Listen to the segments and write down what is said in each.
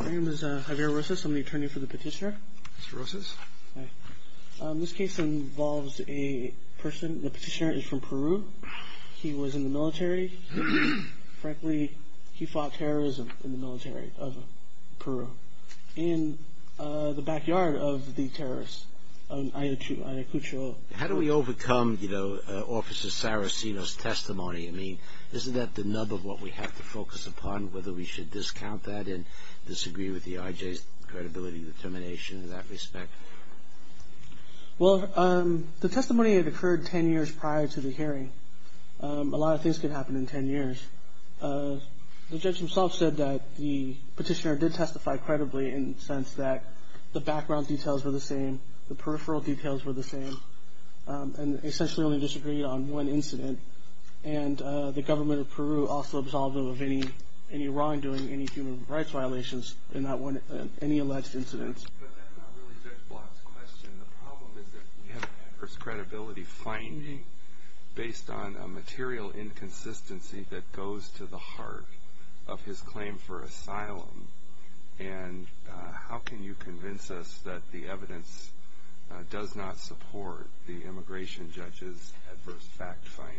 My name is Javier Rosas. I'm the attorney for the petitioner. Mr. Rosas. This case involves a person. The petitioner is from Peru. He was in the military. Frankly, he fought terrorism in the military of Peru in the backyard of the terrorists of Ayacucho. How do we overcome, you know, Officer Saraceno's testimony? I mean, isn't that the nub of what we have to focus upon, whether we should discount that and disagree with the IJ's credibility determination in that respect? Well, the testimony had occurred 10 years prior to the hearing. A lot of things could happen in 10 years. The judge himself said that the petitioner did testify credibly in the sense that the background details were the same, the peripheral details were the same, and essentially only disagreed on one incident. And the government of Peru also absolved him of any wrongdoing, any human rights violations in any alleged incidents. But that's not really Judge Block's question. The problem is that we have adverse credibility finding based on a material inconsistency that goes to the heart of his claim for asylum. And how can you convince us that the evidence does not support the immigration judge's adverse fact finding?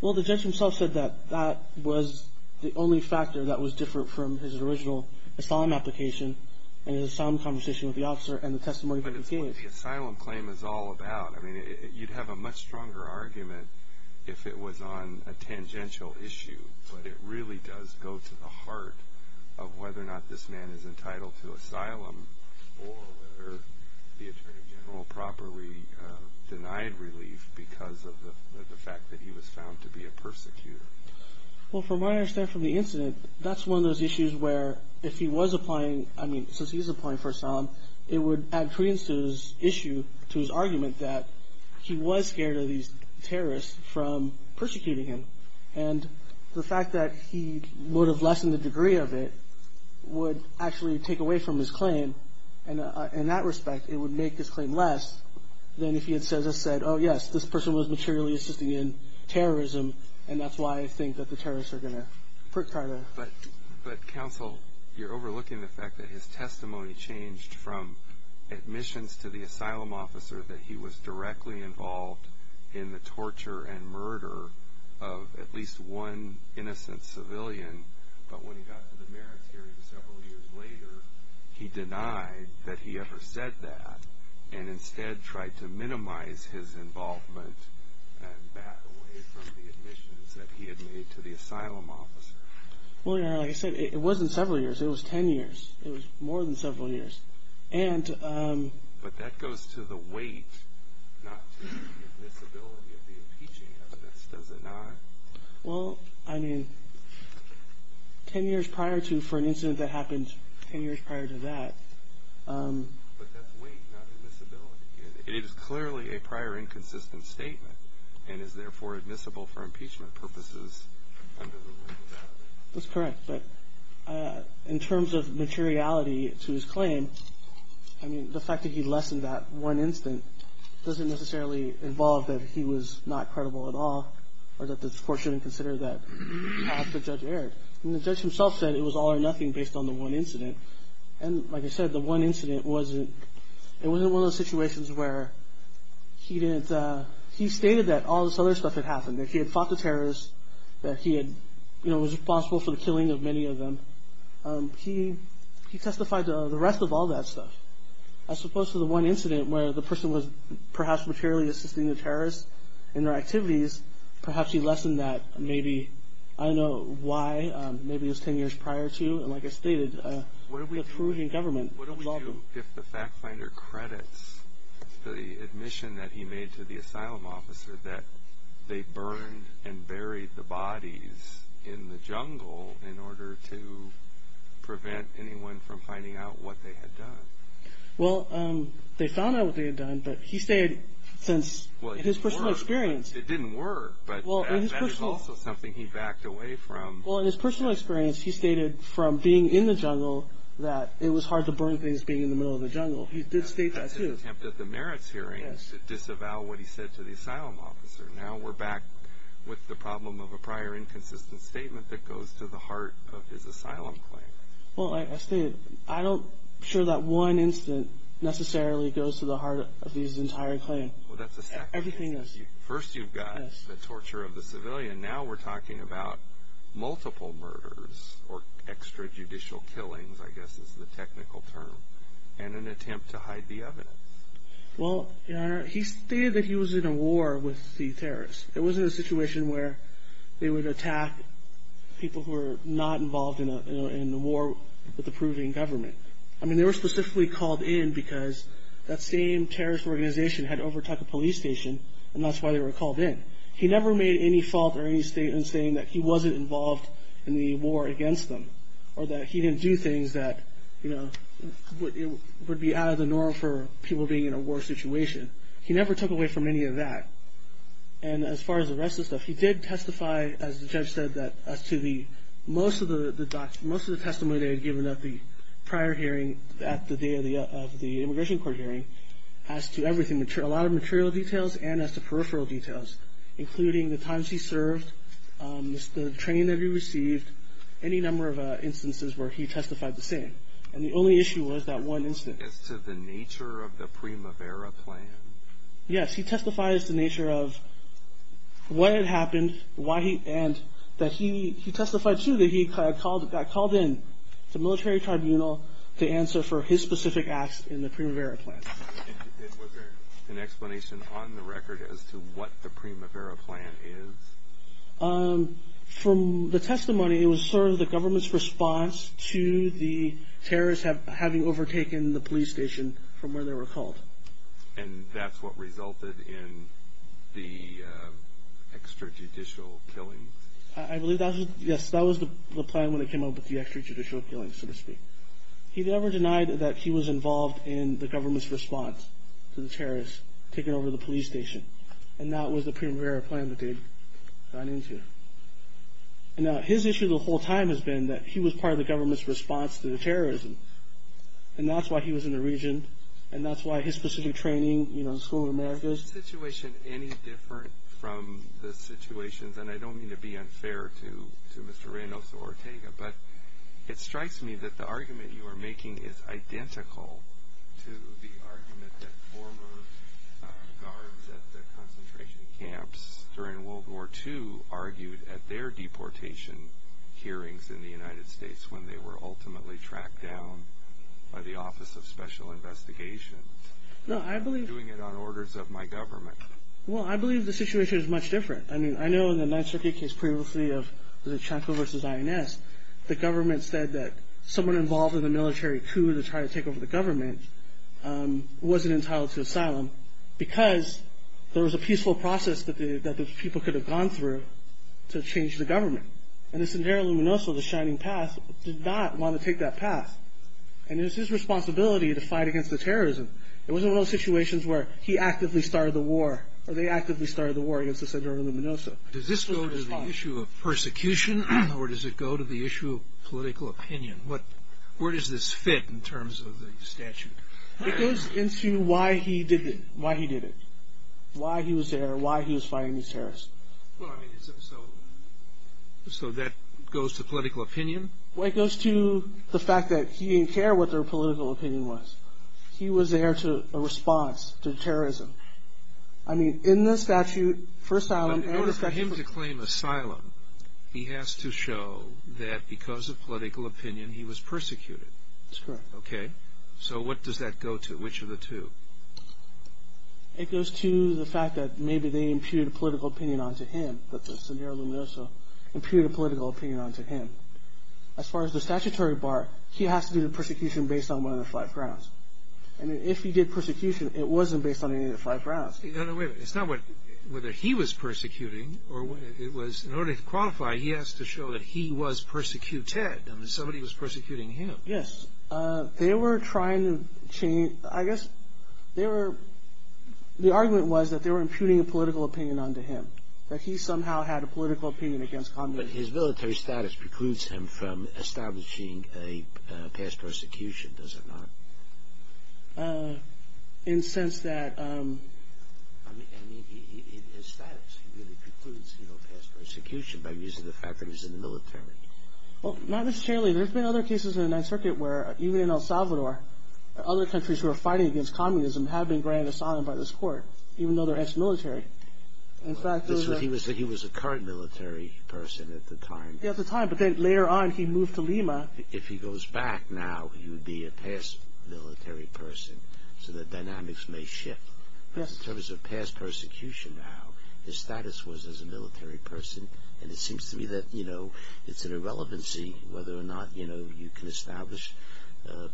Well, the judge himself said that that was the only factor that was different from his original asylum application and his asylum conversation with the officer and the testimony that he gave. But it's what the asylum claim is all about. I mean, you'd have a much stronger argument if it was on a tangential issue. But it really does go to the heart of whether or not this man is entitled to asylum or whether the attorney general properly denied relief because of the fact that he was found to be a persecutor. Well, from what I understand from the incident, that's one of those issues where if he was applying, I mean, since he was applying for asylum, it would add credence to his issue, to his argument, that he was scared of these terrorists from persecuting him. And the fact that he would have lessened the degree of it would actually take away from his claim. In that respect, it would make his claim less than if he had just said, oh, yes, this person was materially assisting in terrorism, and that's why I think that the terrorists are going to put Carter. But, counsel, you're overlooking the fact that his testimony changed from admissions to the asylum officer that he was directly involved in the torture and murder of at least one innocent civilian. But when he got to the merits hearing several years later, he denied that he ever said that and instead tried to minimize his involvement and back away from the admissions that he had made to the asylum officer. Well, like I said, it wasn't several years. It was ten years. It was more than several years. But that goes to the weight, not to the admissibility of the impeaching evidence, does it not? Well, I mean, ten years prior to for an incident that happened ten years prior to that. But that's weight, not admissibility. It is clearly a prior inconsistent statement and is therefore admissible for impeachment purposes under the rule of evidence. That's correct. But in terms of materiality to his claim, I mean, the fact that he lessened that one incident doesn't necessarily involve that he was not credible at all or that the court shouldn't consider that half the judge erred. I mean, the judge himself said it was all or nothing based on the one incident. And like I said, the one incident wasn't – it wasn't one of those situations where he didn't – he stated that all this other stuff had happened, that he had fought the terrorists, that he had – you know, was responsible for the killing of many of them. He testified to the rest of all that stuff. As opposed to the one incident where the person was perhaps materially assisting the terrorists in their activities, perhaps he lessened that maybe. I don't know why. Maybe it was ten years prior to. And like I stated, the perusing government – What do we do if the fact finder credits the admission that he made to the asylum officer that they burned and buried the bodies in the jungle in order to prevent anyone from finding out what they had done? Well, they found out what they had done, but he stated since his personal experience – Well, it didn't work, but that is also something he backed away from. Well, in his personal experience, he stated from being in the jungle that it was hard to burn things being in the middle of the jungle. He did state that too. He made an attempt at the merits hearings to disavow what he said to the asylum officer. Now we're back with the problem of a prior inconsistent statement that goes to the heart of his asylum claim. Well, like I stated, I'm not sure that one incident necessarily goes to the heart of his entire claim. Well, that's a second case. Everything else. First you've got the torture of the civilian. Now we're talking about multiple murders or extrajudicial killings, I guess is the technical term, and an attempt to hide the evidence. Well, Your Honor, he stated that he was in a war with the terrorists. It wasn't a situation where they would attack people who were not involved in a war with the proving government. I mean, they were specifically called in because that same terrorist organization had overtook a police station, and that's why they were called in. He never made any fault or any statement saying that he wasn't involved in the war against them or that he didn't do things that would be out of the norm for people being in a war situation. He never took away from any of that. And as far as the rest of the stuff, he did testify, as the judge said, as to most of the testimony they had given at the prior hearing, at the day of the immigration court hearing, as to a lot of material details and as to peripheral details, including the times he served, the training that he received, any number of instances where he testified the same. And the only issue was that one instance. As to the nature of the Primavera Plan? Yes, he testified as to the nature of what had happened, and that he testified, too, that he got called in to a military tribunal to answer for his specific acts in the Primavera Plan. And was there an explanation on the record as to what the Primavera Plan is? From the testimony, it was sort of the government's response to the terrorists having overtaken the police station from where they were called. And that's what resulted in the extrajudicial killings? I believe that was the plan when it came up with the extrajudicial killings, so to speak. He never denied that he was involved in the government's response to the terrorists taking over the police station. And that was the Primavera Plan that they'd gone into. Now, his issue the whole time has been that he was part of the government's response to the terrorism, and that's why he was in the region, and that's why his specific training, you know, the School of Americas. Is the situation any different from the situations, and I don't mean to be unfair to Mr. Reynoso or Ortega, but it strikes me that the argument you are making is identical to the argument that former guards at the concentration camps during World War II argued at their deportation hearings in the United States when they were ultimately tracked down by the Office of Special Investigations. No, I believe... Doing it on orders of my government. Well, I believe the situation is much different. I mean, I know in the 9th Circuit case previously of the Chancellor versus INS, the government said that someone involved in the military coup to try to take over the government wasn't entitled to asylum because there was a peaceful process that the people could have gone through to change the government. And the Sendero Luminoso, the Shining Path, did not want to take that path. And it was his responsibility to fight against the terrorism. They actively started the war against the Sendero Luminoso. Does this go to the issue of persecution, or does it go to the issue of political opinion? Where does this fit in terms of the statute? It goes into why he did it, why he was there, why he was fighting these terrorists. So that goes to political opinion? Well, it goes to the fact that he didn't care what their political opinion was. He was there to respond to terrorism. I mean, in the statute for asylum and the statute for— But in order for him to claim asylum, he has to show that because of political opinion he was persecuted. That's correct. Okay. So what does that go to? Which of the two? It goes to the fact that maybe they imputed a political opinion onto him, that the Sendero Luminoso imputed a political opinion onto him. As far as the statutory part, he has to do the persecution based on one of the five grounds. And if he did persecution, it wasn't based on any of the five grounds. No, no, wait a minute. It's not whether he was persecuting or it was— In order to qualify, he has to show that he was persecuted. I mean, somebody was persecuting him. Yes. They were trying to change—I guess they were— The argument was that they were imputing a political opinion onto him, that he somehow had a political opinion against combatants. But his military status precludes him from establishing a past persecution, does it not? In the sense that— I mean, his status really precludes past persecution by reason of the fact that he's in the military. Well, not necessarily. There have been other cases in the Ninth Circuit where, even in El Salvador, other countries who are fighting against communism have been granted asylum by this court, even though they're ex-military. He was a current military person at the time. Yes, at the time. But then later on, he moved to Lima. If he goes back now, he would be a past military person, so the dynamics may shift. But in terms of past persecution now, his status was as a military person, and it seems to me that it's an irrelevancy whether or not you can establish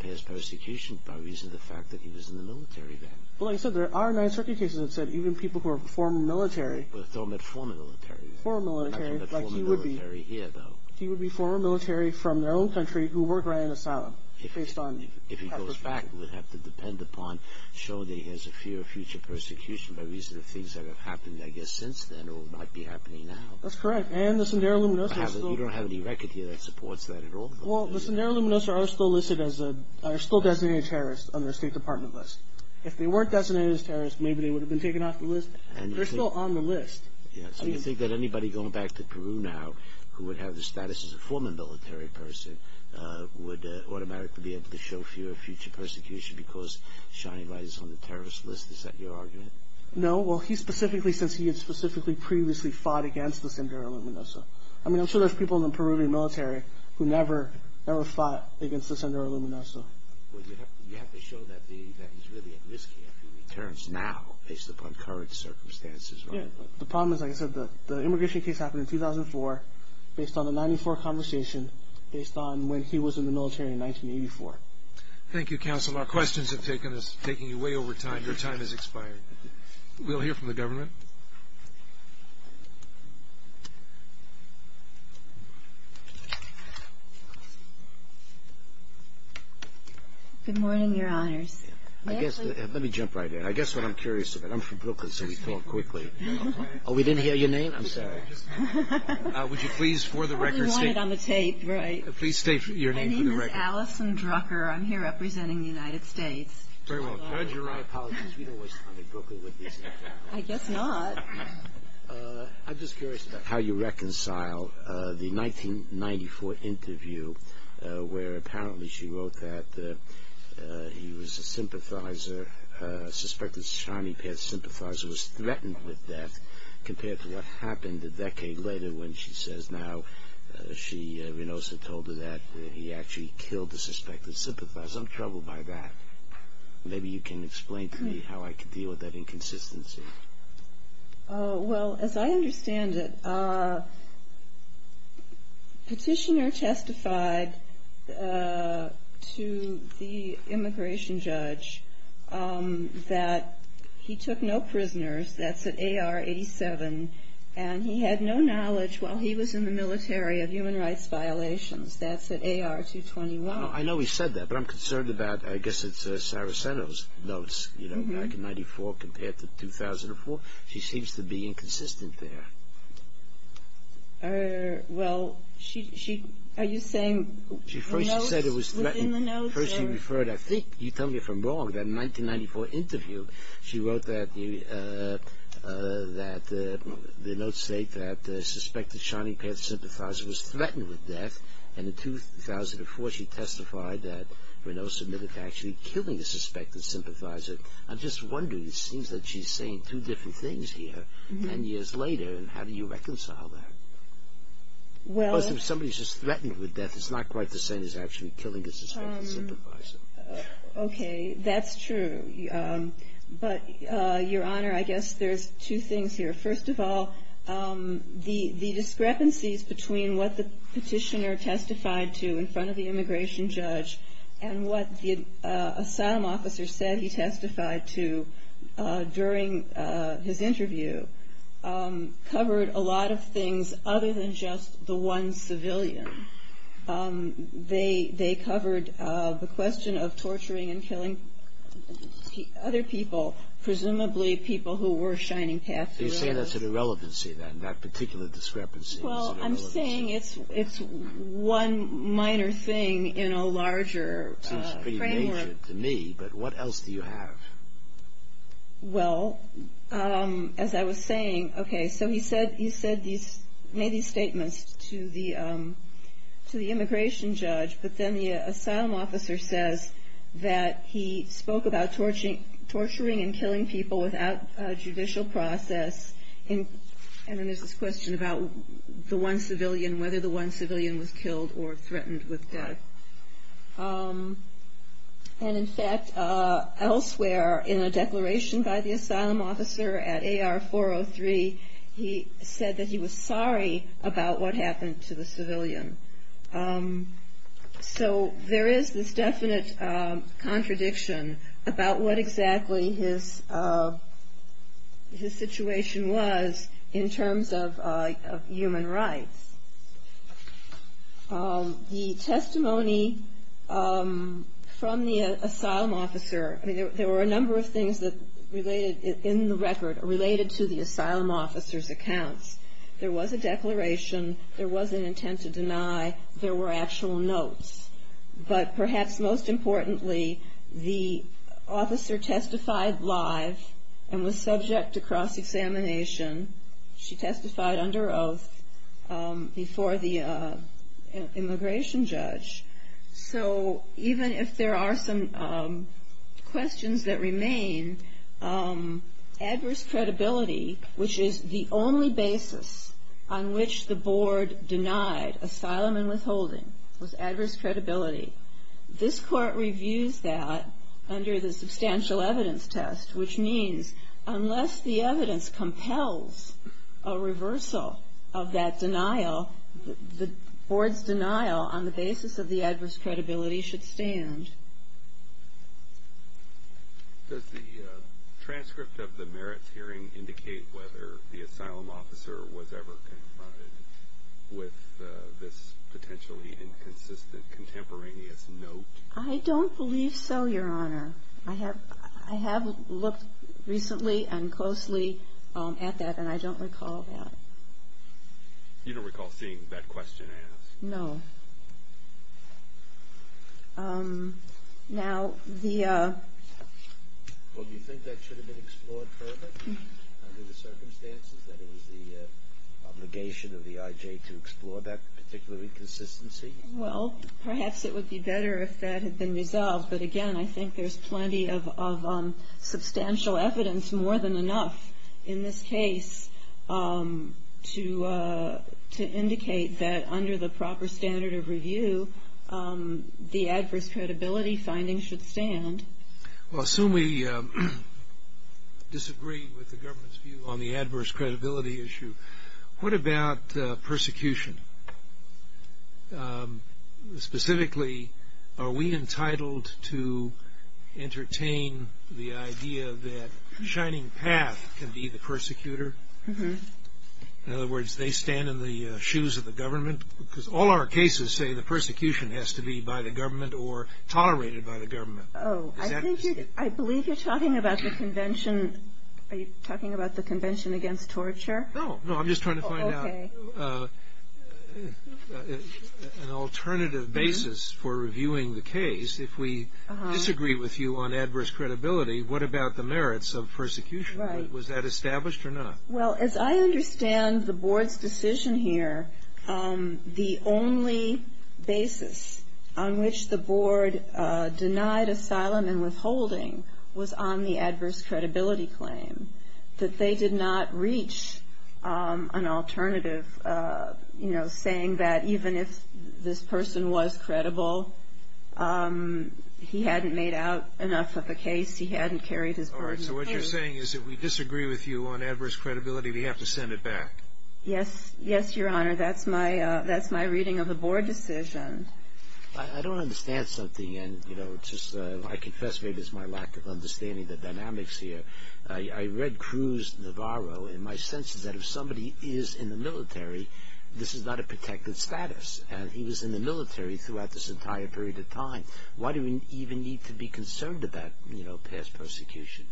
past persecution by reason of the fact that he was in the military then. Well, like I said, there are Ninth Circuit cases that said even people who are former military— But they're not former military. They're not former military here, though. He would be former military from their own country who were granted asylum based on past persecution. If he goes back, we'd have to depend upon showing that he has a fear of future persecution by reason of things that have happened, I guess, since then or might be happening now. That's correct. And the Sendero-Luminosos are still— You don't have any record here that supports that at all. Well, the Sendero-Luminosos are still designated terrorists on their State Department list. If they weren't designated as terrorists, maybe they would have been taken off the list. They're still on the list. So you think that anybody going back to Peru now who would have the status as a former military person would automatically be able to show fear of future persecution because Shani writes on the terrorist list? Is that your argument? No. Well, he specifically, since he had specifically previously fought against the Sendero-Luminosos. I mean, I'm sure there's people in the Peruvian military who never fought against the Sendero-Luminosos. Well, you have to show that he's really at risk here if he returns now based upon current circumstances. Yeah. The problem is, like I said, the immigration case happened in 2004 based on the 1994 conversation, based on when he was in the military in 1984. Thank you, counsel. Our questions have taken you way over time. Your time has expired. We'll hear from the government. Good morning, Your Honors. Let me jump right in. I guess what I'm curious about. I'm from Brooklyn, so we talk quickly. Oh, we didn't hear your name? I'm sorry. Would you please, for the record, state your name for the record? My name is Allison Drucker. I'm here representing the United States. Very well. Judge, you're right. Apologies. We don't waste time in Brooklyn with these things. I guess not. I'm just curious about how you reconcile the 1994 interview where apparently she wrote that he was a sympathizer, a suspected shining path sympathizer was threatened with death compared to what happened a decade later when she says now she, Rinosa, told her that he actually killed the suspected sympathizer. I'm troubled by that. Maybe you can explain to me how I can deal with that inconsistency. Well, as I understand it, Petitioner testified to the immigration judge that he took no prisoners. That's at AR 87. And he had no knowledge while he was in the military of human rights violations. That's at AR 221. I know he said that, but I'm concerned about, I guess it's Saraceno's notes, you know, back in 1994 compared to 2004. She seems to be inconsistent there. Well, are you saying the notes within the notes? First she referred, I think you tell me if I'm wrong, that in the 1994 interview she wrote that the notes state that the suspected shining path sympathizer was threatened with death and in 2004 she testified that Rinosa admitted to actually killing the suspected sympathizer. I'm just wondering, it seems that she's saying two different things here 10 years later and how do you reconcile that? Well If somebody's just threatened with death, it's not quite the same as actually killing the suspected sympathizer. Okay, that's true. But, Your Honor, I guess there's two things here. First of all, the discrepancies between what the petitioner testified to in front of the immigration judge and what the asylum officer said he testified to during his interview covered a lot of things other than just the one civilian. They covered the question of torturing and killing other people, presumably people who were shining path through it. Are you saying that's an irrelevancy then, that particular discrepancy? Well, I'm saying it's one minor thing in a larger framework. It seems pretty major to me, but what else do you have? Well, as I was saying, okay, so he made these statements to the immigration judge, but then the asylum officer says that he spoke about torturing and killing people without a judicial process. And then there's this question about the one civilian, whether the one civilian was killed or threatened with death. And, in fact, elsewhere in a declaration by the asylum officer at AR-403, he said that he was sorry about what happened to the civilian. So there is this definite contradiction about what exactly his situation was in terms of human rights. The testimony from the asylum officer, there were a number of things in the record related to the asylum officer's accounts. There was a declaration. There was an intent to deny. There were actual notes. But perhaps most importantly, the officer testified live and was subject to cross-examination. She testified under oath before the immigration judge. So even if there are some questions that remain, adverse credibility, which is the only basis on which the board denied asylum and withholding, was adverse credibility. This Court reviews that under the substantial evidence test, which means unless the evidence compels a reversal of that denial, the board's denial on the basis of the adverse credibility should stand. Does the transcript of the merits hearing indicate whether the asylum officer was ever confronted with this potentially inconsistent contemporaneous note? I don't believe so, Your Honor. I have looked recently and closely at that, and I don't recall that. You don't recall seeing that question asked? No. Well, do you think that should have been explored further under the circumstances that it was the obligation of the IJ to explore that particular inconsistency? Well, perhaps it would be better if that had been resolved. But again, I think there's plenty of substantial evidence, more than enough. In this case, to indicate that under the proper standard of review, the adverse credibility findings should stand. Well, assuming we disagree with the government's view on the adverse credibility issue, what about persecution? Specifically, are we entitled to entertain the idea that Shining Path can be the persecutor? Mm-hmm. In other words, they stand in the shoes of the government? Because all our cases say the persecution has to be by the government or tolerated by the government. Oh, I believe you're talking about the Convention. Are you talking about the Convention Against Torture? No, no. I'm just trying to find out. Okay. An alternative basis for reviewing the case, if we disagree with you on adverse credibility, what about the merits of persecution? Right. Was that established or not? Well, as I understand the Board's decision here, the only basis on which the Board denied asylum and withholding was on the adverse credibility claim, that they did not reach an alternative, you know, saying that even if this person was credible, he hadn't made out enough of a case, he hadn't carried his burden. All right. So what you're saying is if we disagree with you on adverse credibility, we have to send it back? Yes. Yes, Your Honor. That's my reading of the Board decision. I don't understand something, and, you know, it's just I confess maybe it's my lack of understanding the dynamics here. I read Cruz Navarro, and my sense is that if somebody is in the military, this is not a protected status. He was in the military throughout this entire period of time. Why do we even need to be concerned about, you know, past persecution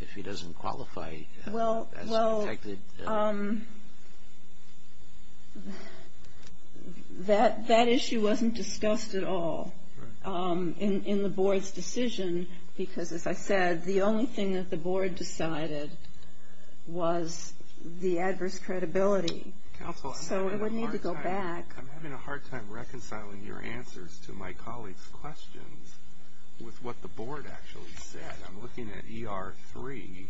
if he doesn't qualify as protected? Well, that issue wasn't discussed at all in the Board's decision because, as I said, the only thing that the Board decided was the adverse credibility. Counsel, I'm having a hard time reconciling your answers to my colleagues' questions with what the Board actually said. I'm looking at ER 3,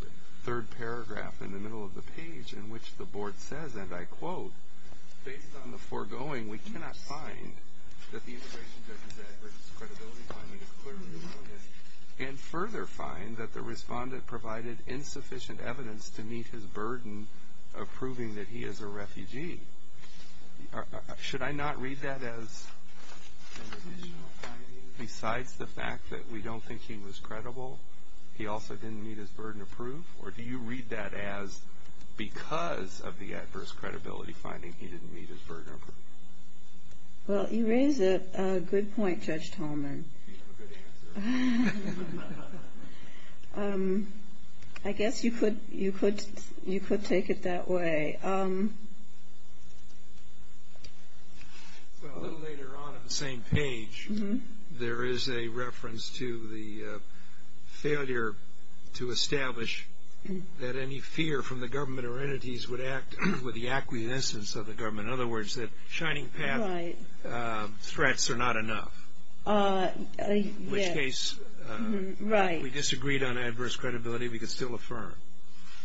the third paragraph in the middle of the page in which the Board says, and I quote, Based on the foregoing, we cannot find that the immigration judge's adverse credibility finding is clearly erroneous and further find that the respondent provided insufficient evidence to meet his burden of proving that he is a refugee. Should I not read that as besides the fact that we don't think he was credible, he also didn't meet his burden of proof, or do you read that as because of the adverse credibility finding he didn't meet his burden of proof? Well, you raise a good point, Judge Tolman. You have a good answer. I guess you could take it that way. Well, a little later on on the same page, there is a reference to the failure to establish that any fear from the government or entities would act with the acquiescence of the government. In other words, that shining path threats are not enough. In which case, if we disagreed on adverse credibility, we could still affirm.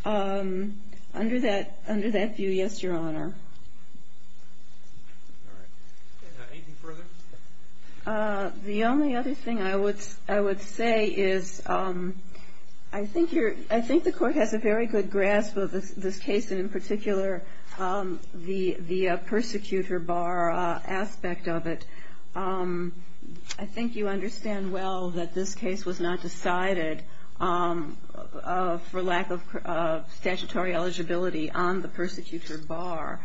Under that view, yes, Your Honor. Anything further? The only other thing I would say is I think the court has a very good grasp of this case, and in particular the persecutor bar aspect of it. I think you understand well that this case was not decided for lack of statutory eligibility on the persecutor bar,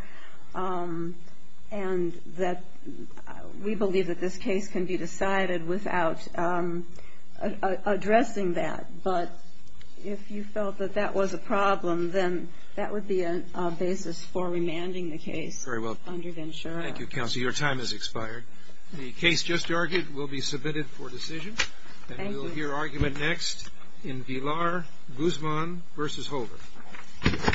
and that we believe that this case can be decided without addressing that. But if you felt that that was a problem, then that would be a basis for remanding the case. Very well. Thank you, Counsel. Your time has expired. The case just argued will be submitted for decision. Thank you. And we'll hear argument next in Villar, Guzman v. Holder.